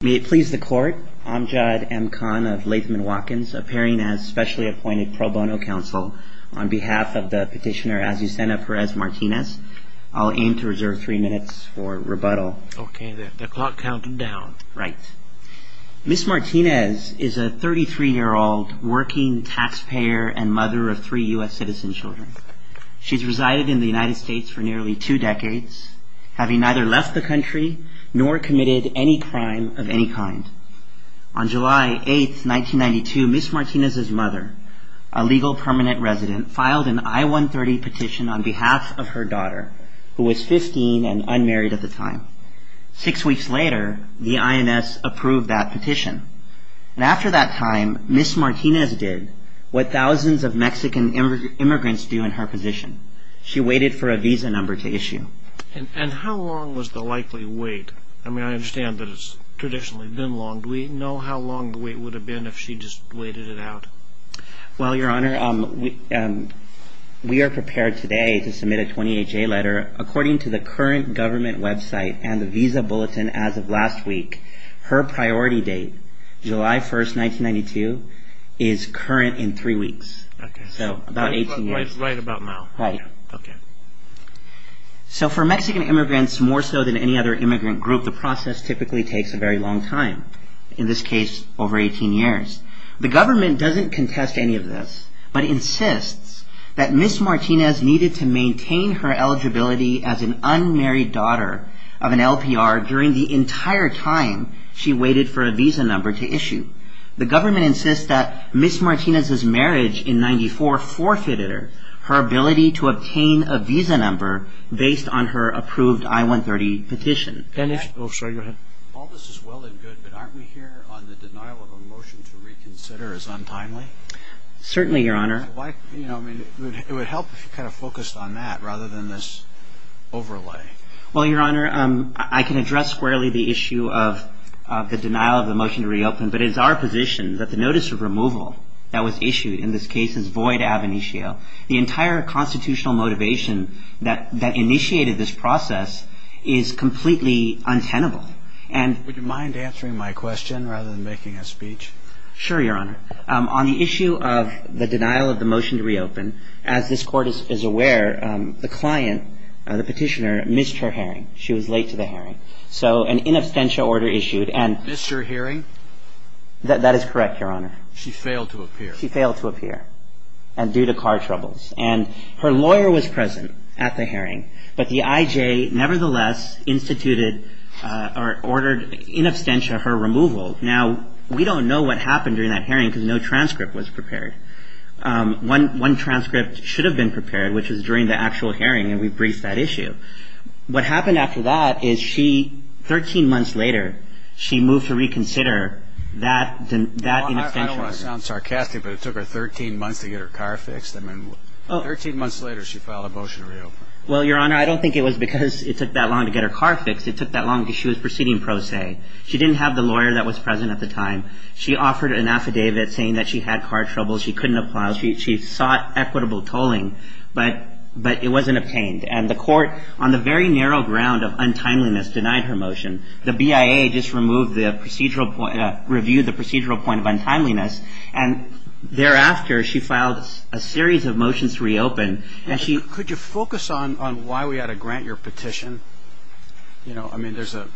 May it please the court, Amjad M. Khan of Latham & Watkins, appearing as specially appointed pro bono counsel on behalf of the petitioner Azucena Perez Martinez. I'll aim to reserve three minutes for rebuttal. Okay, the clock counting down. Right. Ms. Martinez is a 33-year-old working taxpayer and mother of three U.S. citizen children. She's resided in the United States for nearly two decades, having neither left the country nor committed any crime of any kind. On July 8, 1992, Ms. Martinez's mother, a legal permanent resident, filed an I-130 petition on behalf of her daughter, who was 15 and unmarried at the time. Six weeks later, the INS approved that petition. And after that time, Ms. Martinez did what thousands of Mexican immigrants do in her position. She waited for a visa number to issue. And how long was the likely wait? I mean, I understand that it's traditionally been long. Do we know how long the wait would have been if she just waited it out? Well, Your Honor, we are prepared today to submit a 28-J letter. According to the current government website and the visa bulletin as of last week, her priority date, July 1, 1992, is current in three weeks. Okay. So about 18 years. Right about now. Right. Okay. So for Mexican immigrants, more so than any other immigrant group, the process typically takes a very long time. In this case, over 18 years. The government doesn't contest any of this, but insists that Ms. Martinez needed to maintain her eligibility as an unmarried daughter of an LPR during the entire time she waited for a visa number to issue. The government insists that Ms. Martinez's marriage in 1994 forfeited her her ability to obtain a visa number based on her approved I-130 petition. All this is well and good, but aren't we here on the denial of a motion to reconsider as untimely? Certainly, Your Honor. I mean, it would help if you kind of focused on that rather than this overlay. Well, Your Honor, I can address squarely the issue of the denial of the motion to reopen, but it is our position that the notice of removal that was issued in this case is void ab initio. The entire constitutional motivation that initiated this process is completely untenable. Would you mind answering my question rather than making a speech? Sure, Your Honor. On the issue of the denial of the motion to reopen, as this Court is aware, the client, the petitioner, missed her hearing. She was late to the hearing. So an in absentia order issued and Ms. Missed her hearing? That is correct, Your Honor. She failed to appear. And due to car troubles. And her lawyer was present at the hearing, but the IJ nevertheless instituted or ordered in absentia her removal. Now, we don't know what happened during that hearing because no transcript was prepared. One transcript should have been prepared, which was during the actual hearing, and we briefed that issue. What happened after that is she, 13 months later, she moved to reconsider that in absentia. I don't want to sound sarcastic, but it took her 13 months to get her car fixed? I mean, 13 months later, she filed a motion to reopen. Well, Your Honor, I don't think it was because it took that long to get her car fixed. It took that long because she was proceeding pro se. She didn't have the lawyer that was present at the time. She offered an affidavit saying that she had car troubles. She couldn't apply. She sought equitable tolling, but it wasn't obtained. And the Court, on the very narrow ground of untimeliness, denied her motion. The BIA just removed the procedural point, reviewed the procedural point of untimeliness, and thereafter, she filed a series of motions to reopen. Could you focus on why we ought to grant your petition? You know, I mean, there's a,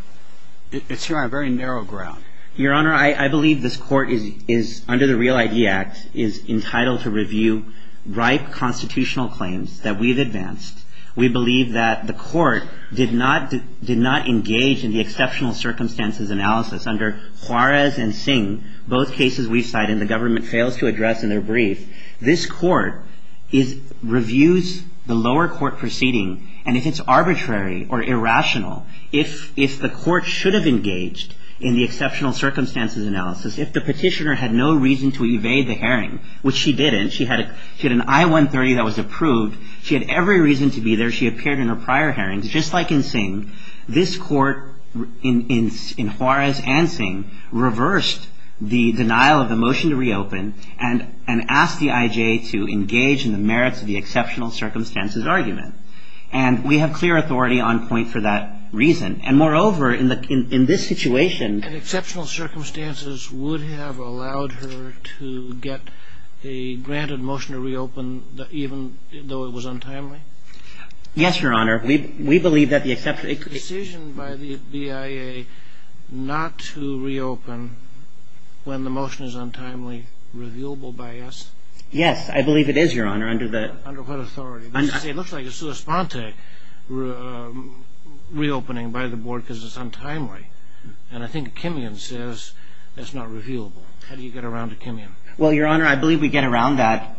it's here on a very narrow ground. Your Honor, I believe this Court is, under the REAL ID Act, is entitled to review ripe constitutional claims that we've advanced. We believe that the Court did not, did not engage in the exceptional circumstances analysis. Under Juarez and Singh, both cases we cite and the government fails to address in their brief, this Court is, reviews the lower court proceeding. And if it's arbitrary or irrational, if, if the Court should have engaged in the exceptional circumstances analysis, if the petitioner had no reason to evade the hearing, which she didn't. She had a, she had an I-130 that was approved. She had every reason to be there. She appeared in her prior hearings. Just like in Singh, this Court, in, in, in Juarez and Singh, reversed the denial of the motion to reopen and, and asked the IJ to engage in the merits of the exceptional circumstances argument. And we have clear authority on point for that reason. And moreover, in the, in, in this situation. And exceptional circumstances would have allowed her to get a granted motion to reopen, even though it was untimely? Yes, Your Honor. We, we believe that the exception. Is the decision by the BIA not to reopen when the motion is untimely, revealable by us? Yes, I believe it is, Your Honor, under the. Under what authority? It looks like it's a spontaneous reopening by the board because it's untimely. And I think Kimian says it's not revealable. How do you get around to Kimian? Well, Your Honor, I believe we get around that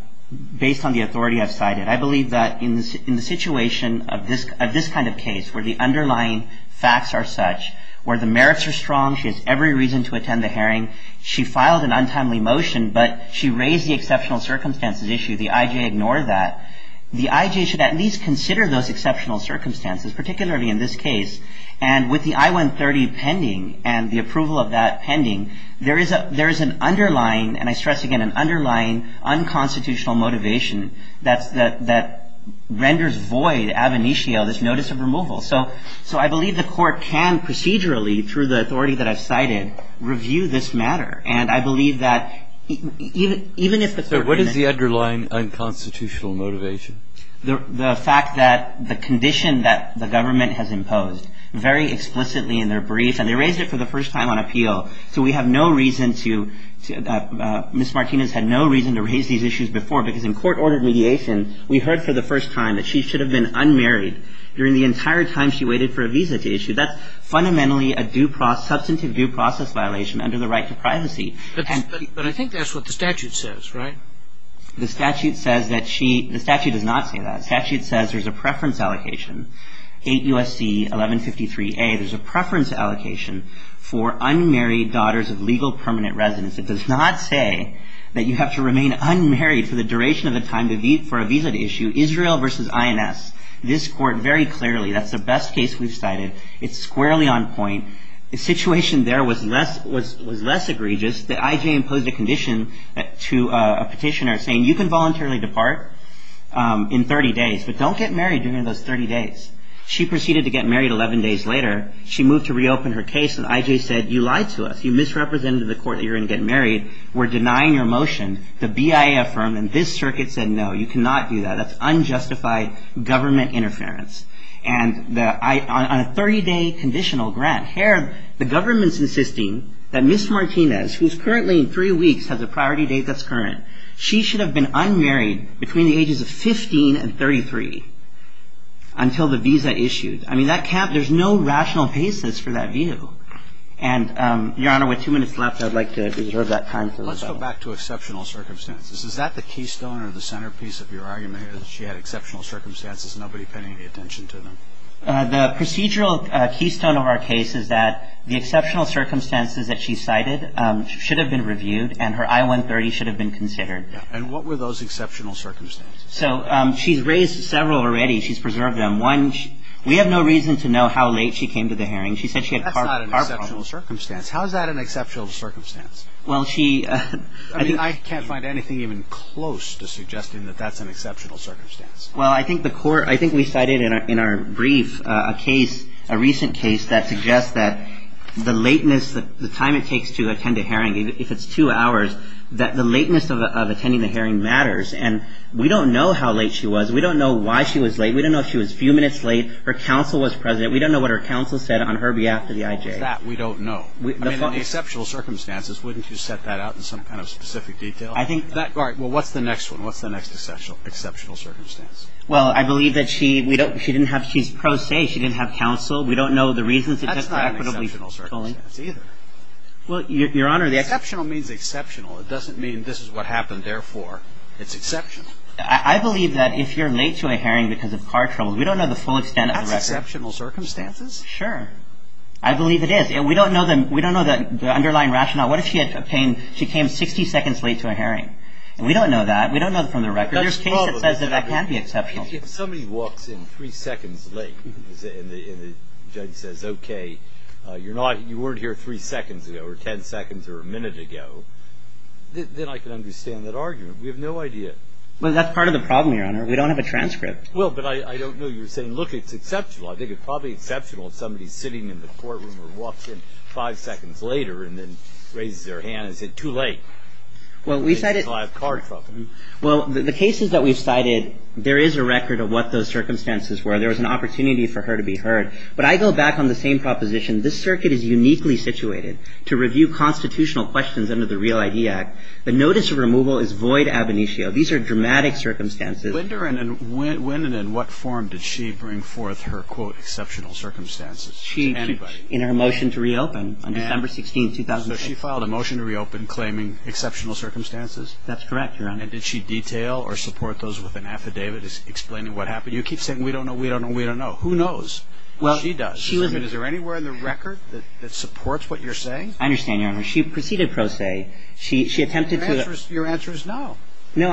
based on the authority I've cited. I believe that in, in the situation of this, of this kind of case, where the underlying facts are such, where the merits are strong, she has every reason to attend the hearing. She filed an untimely motion, but she raised the exceptional circumstances issue. The IJ ignored that. The IJ should at least consider those exceptional circumstances, particularly in this case. And with the I-130 pending, and the approval of that pending, there is a, there is an underlying, and I stress again, an underlying unconstitutional motivation that's, that, that renders void ab initio, this notice of removal. So, so I believe the Court can procedurally, through the authority that I've cited, review this matter. And I believe that even, even if the. The underlying unconstitutional motivation. The, the fact that the condition that the government has imposed very explicitly in their brief, and they raised it for the first time on appeal, so we have no reason to, to, Ms. Martinez had no reason to raise these issues before, because in court-ordered mediation, we heard for the first time that she should have been unmarried during the entire time she waited for a visa to issue. That's fundamentally a due process, substantive due process violation under the right to privacy. And. But I think that's what the statute says, right? The statute says that she, the statute does not say that. The statute says there's a preference allocation. 8 U.S.C. 1153A, there's a preference allocation for unmarried daughters of legal permanent residents. It does not say that you have to remain unmarried for the duration of the time to, for a visa to issue. Israel versus INS. This Court very clearly, that's the best case we've cited. It's squarely on point. The situation there was less, was, was less egregious. The I.J. imposed a condition to a petitioner saying, you can voluntarily depart in 30 days, but don't get married during those 30 days. She proceeded to get married 11 days later. She moved to reopen her case, and I.J. said, you lied to us. You misrepresented the court that you were going to get married. We're denying your motion. The BIA affirmed, and this circuit said, no, you cannot do that. That's unjustified government interference. And the, I, on a 30-day conditional grant, here, the government's insisting that Ms. Martinez, who's currently in three weeks, has a priority date that's current. She should have been unmarried between the ages of 15 and 33 until the visa issued. I mean, that can't, there's no rational basis for that view. And, Your Honor, with two minutes left, I'd like to reserve that time. Let's go back to exceptional circumstances. Is that the keystone or the centerpiece of your argument, that she had exceptional circumstances, nobody paying any attention to them? The procedural keystone of our case is that the exceptional circumstances that she cited should have been reviewed, and her I-130 should have been considered. And what were those exceptional circumstances? So, she's raised several already. She's preserved them. One, we have no reason to know how late she came to the hearing. She said she had heart problems. That's not an exceptional circumstance. How is that an exceptional circumstance? Well, she... I mean, I can't find anything even close to suggesting that that's an exceptional circumstance. Well, I think the court, I think we cited in our brief a case, a recent case, that suggests that the lateness, the time it takes to attend a hearing, if it's two hours, that the lateness of attending the hearing matters. And we don't know how late she was. We don't know why she was late. We don't know if she was a few minutes late. Her counsel was present. We don't know what her counsel said on her behalf to the IJ. Is that we don't know? I mean, in exceptional circumstances, wouldn't you set that out in some kind of specific detail? I think... All right. Well, what's the next one? What's the next exceptional circumstance? Well, I believe that she didn't have... She's pro se. She didn't have counsel. We don't know the reasons. That's not an exceptional circumstance either. Well, Your Honor, the... Exceptional means exceptional. It doesn't mean this is what happened, therefore it's exceptional. I believe that if you're late to a hearing because of car trouble, we don't know the full extent of the record. That's exceptional circumstances? Sure. I believe it is. We don't know the underlying rationale. What if she came 60 seconds late to a hearing? We don't know that. We don't know from the record. There's case that says that that can be exceptional. If somebody walks in three seconds late and the judge says, okay, you weren't here three seconds ago or ten seconds or a minute ago, then I can understand that argument. We have no idea. Well, that's part of the problem, Your Honor. We don't have a transcript. Well, but I don't know. You're saying, look, it's exceptional. I think it's probably exceptional if somebody's sitting in the courtroom or walks in five seconds later and then raises their hand and says, too late. Well, we cited... Because of car trouble. Well, the cases that we've cited, there is a record of what those circumstances were. There was an opportunity for her to be heard. But I go back on the same proposition. This circuit is uniquely situated to review constitutional questions under the Real ID Act. The notice of removal is void ab initio. These are dramatic circumstances. When and in what form did she bring forth her, quote, exceptional circumstances to anybody? In her motion to reopen on December 16, 2008. So she filed a motion to reopen claiming exceptional circumstances? That's correct, Your Honor. And did she detail or support those with an affidavit explaining what happened? You keep saying we don't know, we don't know, we don't know. Who knows? She does. Is there anywhere in the record that supports what you're saying? I understand, Your Honor. She proceeded pro se. She attempted to... Your answer is no. No,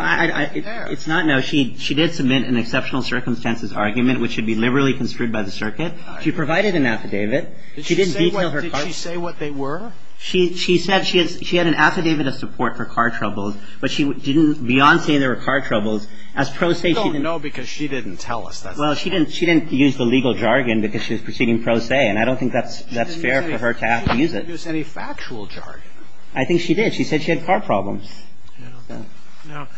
it's not no. She did submit an exceptional circumstances argument, which should be liberally construed by the circuit. She provided an affidavit. She didn't detail her... Did she say what they were? She said she had an affidavit of support for car troubles. But she didn't beyond say there were car troubles. As pro se... We don't know because she didn't tell us. Well, she didn't use the legal jargon because she was proceeding pro se, and I don't think that's fair for her to have to use it. She didn't use any factual jargon. I think she did. She said she had car problems. Now,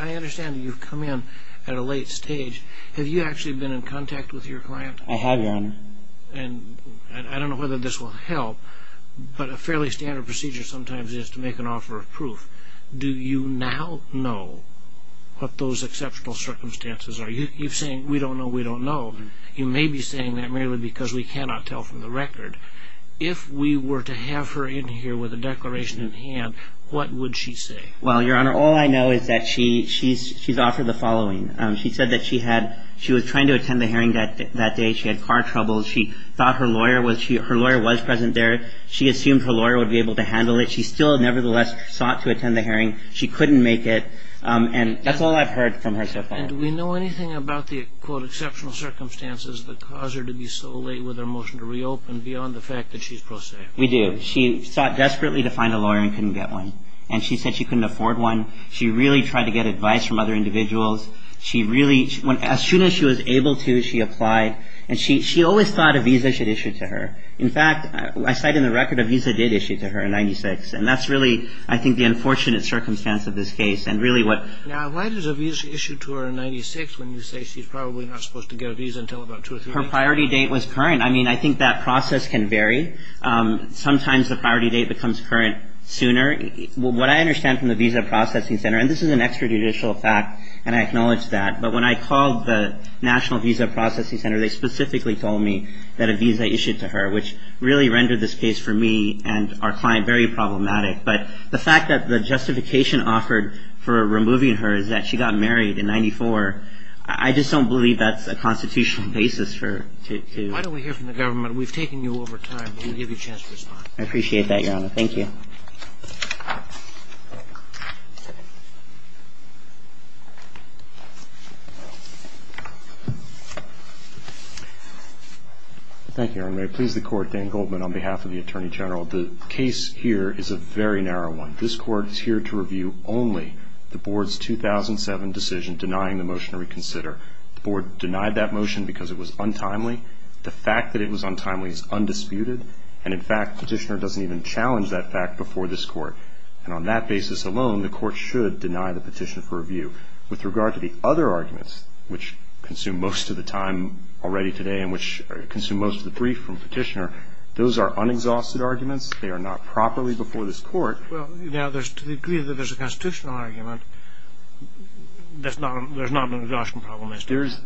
I understand you've come in at a late stage. Have you actually been in contact with your client? I have, Your Honor. And I don't know whether this will help, but a fairly standard procedure sometimes is to make an offer of proof. Do you now know what those exceptional circumstances are? You're saying we don't know, we don't know. You may be saying that merely because we cannot tell from the record. If we were to have her in here with a declaration in hand, what would she say? Well, Your Honor, all I know is that she's offered the following. She said that she was trying to attend the hearing that day. She had car troubles. She thought her lawyer was present there. She assumed her lawyer would be able to handle it. She still nevertheless sought to attend the hearing. She couldn't make it. And that's all I've heard from her so far. And do we know anything about the, quote, We do. She sought desperately to find a lawyer and couldn't get one. And she said she couldn't afford one. She really tried to get advice from other individuals. She really, as soon as she was able to, she applied. And she always thought a visa should issue to her. In fact, I cite in the record, a visa did issue to her in 1996. And that's really, I think, the unfortunate circumstance of this case and really what. Now, why does a visa issue to her in 1996 when you say she's probably not supposed to get a visa until about two or three weeks? Well, her priority date was current. I mean, I think that process can vary. Sometimes the priority date becomes current sooner. What I understand from the Visa Processing Center, and this is an extrajudicial fact, and I acknowledge that, but when I called the National Visa Processing Center, they specifically told me that a visa issued to her, which really rendered this case for me and our client very problematic. But the fact that the justification offered for removing her is that she got married in 1994. I just don't believe that's a constitutional basis for to do. Why don't we hear from the government? We've taken you over time. We'll give you a chance to respond. I appreciate that, Your Honor. Thank you. Thank you, Your Honor. May it please the Court, Dan Goldman on behalf of the Attorney General. The case here is a very narrow one. This Court is here to review only the Board's 2007 decision denying the motion to reconsider. The Board denied that motion because it was untimely. The fact that it was untimely is undisputed. And, in fact, Petitioner doesn't even challenge that fact before this Court. And on that basis alone, the Court should deny the petition for review. With regard to the other arguments, which consume most of the time already today and which consume most of the brief from Petitioner, those are unexhausted arguments. They are not properly before this Court. Well, you know, to the degree that there's a constitutional argument, there's not an exhaustion problem.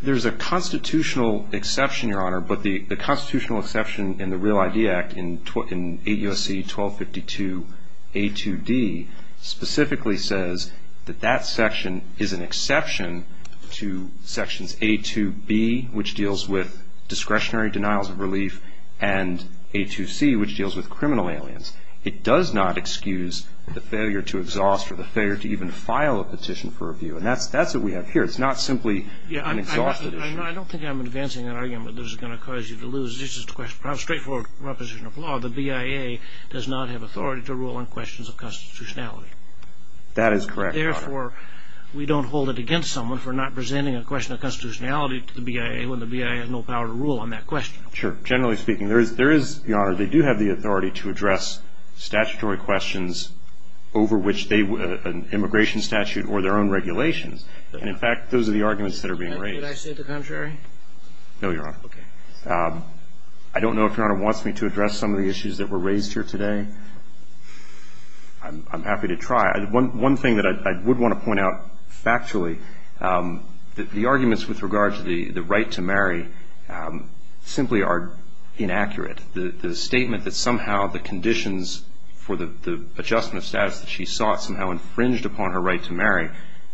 There's a constitutional exception, Your Honor. But the constitutional exception in the Real ID Act in 8 U.S.C. 1252a2d specifically says that that section is an exception to sections a2b, which deals with discretionary denials of relief, and a2c, which deals with criminal aliens. It does not excuse the failure to exhaust or the failure to even file a petition for review. And that's what we have here. It's not simply an exhausted issue. I don't think I'm advancing an argument that is going to cause you to lose. This is a straightforward proposition of law. The BIA does not have authority to rule on questions of constitutionality. That is correct, Your Honor. Therefore, we don't hold it against someone for not presenting a question of constitutionality to the BIA when the BIA has no power to rule on that question. Sure. Generally speaking, there is, Your Honor, they do have the authority to address statutory questions over which an immigration statute or their own regulations. And, in fact, those are the arguments that are being raised. Would I say the contrary? No, Your Honor. Okay. I don't know if Your Honor wants me to address some of the issues that were raised here today. I'm happy to try. One thing that I would want to point out factually, the arguments with regard to the right to marry simply are inaccurate. The statement that somehow the conditions for the adjustment of status that she sought somehow infringed upon her right to marry,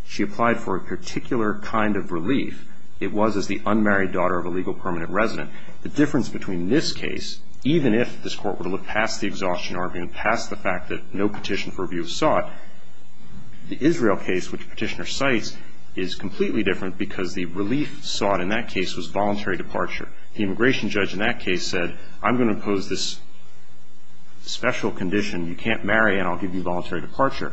she applied for a particular kind of relief. It was as the unmarried daughter of a legal permanent resident. The difference between this case, even if this Court were to look past the exhaustion argument, past the fact that no petition for review was sought, the Israel case, which the petitioner cites, is completely different because the relief sought in that case was voluntary departure. The immigration judge in that case said, I'm going to impose this special condition, you can't marry and I'll give you voluntary departure.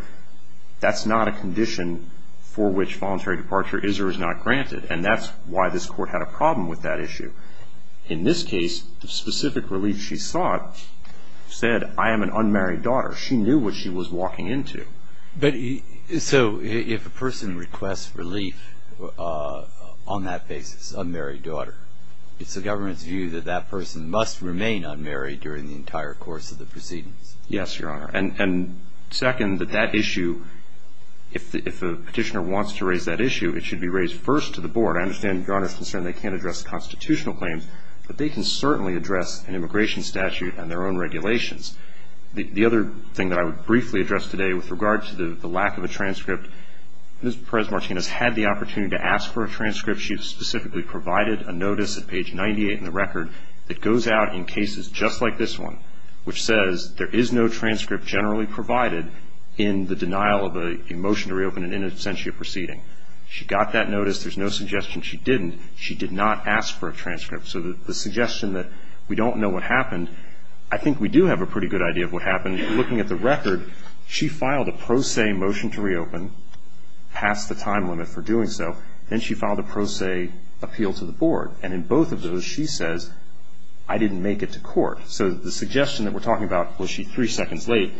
That's not a condition for which voluntary departure is or is not granted. And that's why this Court had a problem with that issue. In this case, the specific relief she sought said, I am an unmarried daughter. She knew what she was walking into. So if a person requests relief on that basis, unmarried daughter, it's the government's view that that person must remain unmarried during the entire course of the proceedings? Yes, Your Honor. And second, that that issue, if a petitioner wants to raise that issue, it should be raised first to the Board. I understand Your Honor's concern they can't address constitutional claims, but they can certainly address an immigration statute and their own regulations. The other thing that I would briefly address today with regard to the lack of a transcript, Ms. Perez-Martinez had the opportunity to ask for a transcript. She specifically provided a notice at page 98 in the record that goes out in cases just like this one, which says there is no transcript generally provided in the denial of a motion to reopen an in absentia proceeding. She got that notice. There's no suggestion she didn't. She did not ask for a transcript. So the suggestion that we don't know what happened, I think we do have a pretty good idea of what happened. Looking at the record, she filed a pro se motion to reopen, passed the time limit for doing so. Then she filed a pro se appeal to the Board. And in both of those, she says, I didn't make it to court. So the suggestion that we're talking about, was she three seconds late,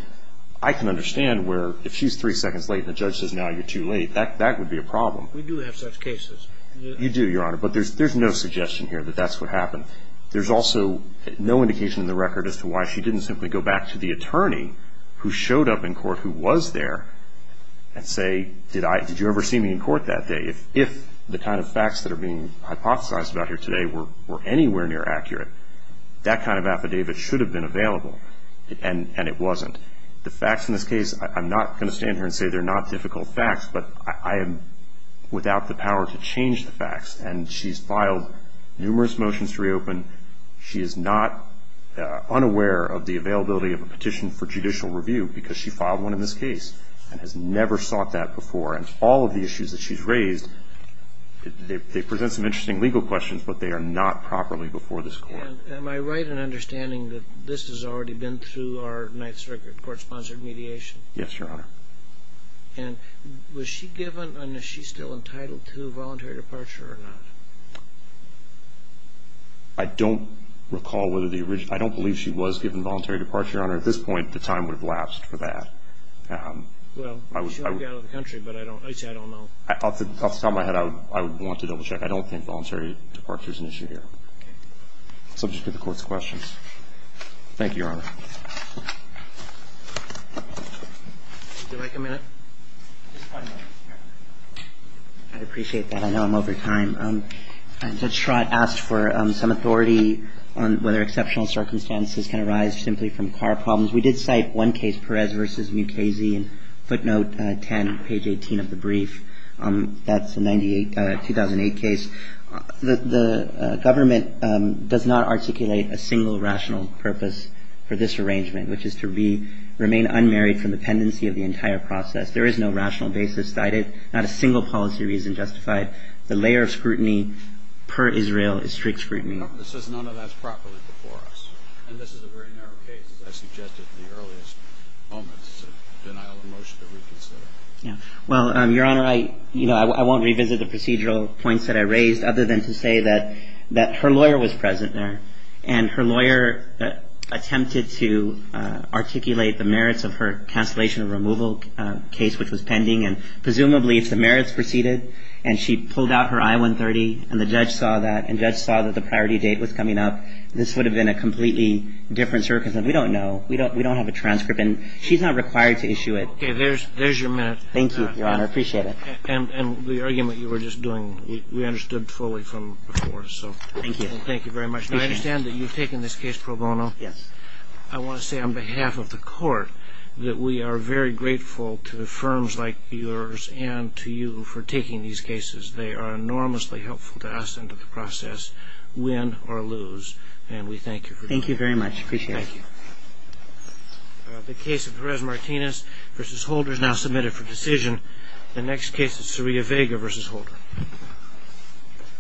I can understand where if she's three seconds late and the judge says now you're too late, that would be a problem. We do have such cases. You do, Your Honor. But there's no suggestion here that that's what happened. There's also no indication in the record as to why she didn't simply go back to the attorney who showed up in court who was there and say, did you ever see me in court that day? If the kind of facts that are being hypothesized about here today were anywhere near accurate, that kind of affidavit should have been available. And it wasn't. The facts in this case, I'm not going to stand here and say they're not difficult facts, but I am without the power to change the facts. And she's filed numerous motions to reopen. She is not unaware of the availability of a petition for judicial review because she filed one in this case and has never sought that before. And all of the issues that she's raised, they present some interesting legal questions, but they are not properly before this Court. Am I right in understanding that this has already been through our ninth circuit, court-sponsored mediation? Yes, Your Honor. And was she given and is she still entitled to a voluntary departure or not? I don't recall whether the original ‑‑ I don't believe she was given voluntary departure, Your Honor. At this point, the time would have lapsed for that. Well, she only got out of the country, but I don't know. Off the top of my head, I would want to double check. I don't think voluntary departure is an issue here. Okay. Subject to the Court's questions. Thank you, Your Honor. Would you like a minute? I appreciate that. I know I'm over time. Judge Schrott asked for some authority on whether exceptional circumstances can arise simply from car problems. We did cite one case, Perez v. Mukasey in footnote 10, page 18 of the brief. That's a 2008 case. The government does not articulate a single rational purpose for this arrangement, which is to remain unmarried from the pendency of the entire process. There is no rational basis cited, not a single policy reason justified. The layer of scrutiny per Israel is strict scrutiny. It says none of that is properly before us. And this is a very narrow case, as I suggested in the earliest moments of denial of motion to reconsider. Well, Your Honor, I won't revisit the procedural points that I raised, other than to say that her lawyer was present there, and her lawyer attempted to articulate the merits of her cancellation of removal case, which was pending. And presumably, if the merits proceeded, and she pulled out her I-130, and the judge saw that, and the judge saw that the priority date was coming up, this would have been a completely different circumstance. We don't know. We don't have a transcript. And she's not required to issue it. Okay. There's your minute. Thank you, Your Honor. I appreciate it. And the argument you were just doing, we understood fully from before. Thank you. Thank you very much. I understand that you've taken this case pro bono. Yes. I want to say on behalf of the Court that we are very grateful to firms like yours and to you for taking these cases. They are enormously helpful to us and to the process, win or lose. And we thank you for that. Thank you very much. Appreciate it. Thank you. The case of Jerez-Martinez v. Holder is now submitted for decision. The next case is Soria Vega v. Holder.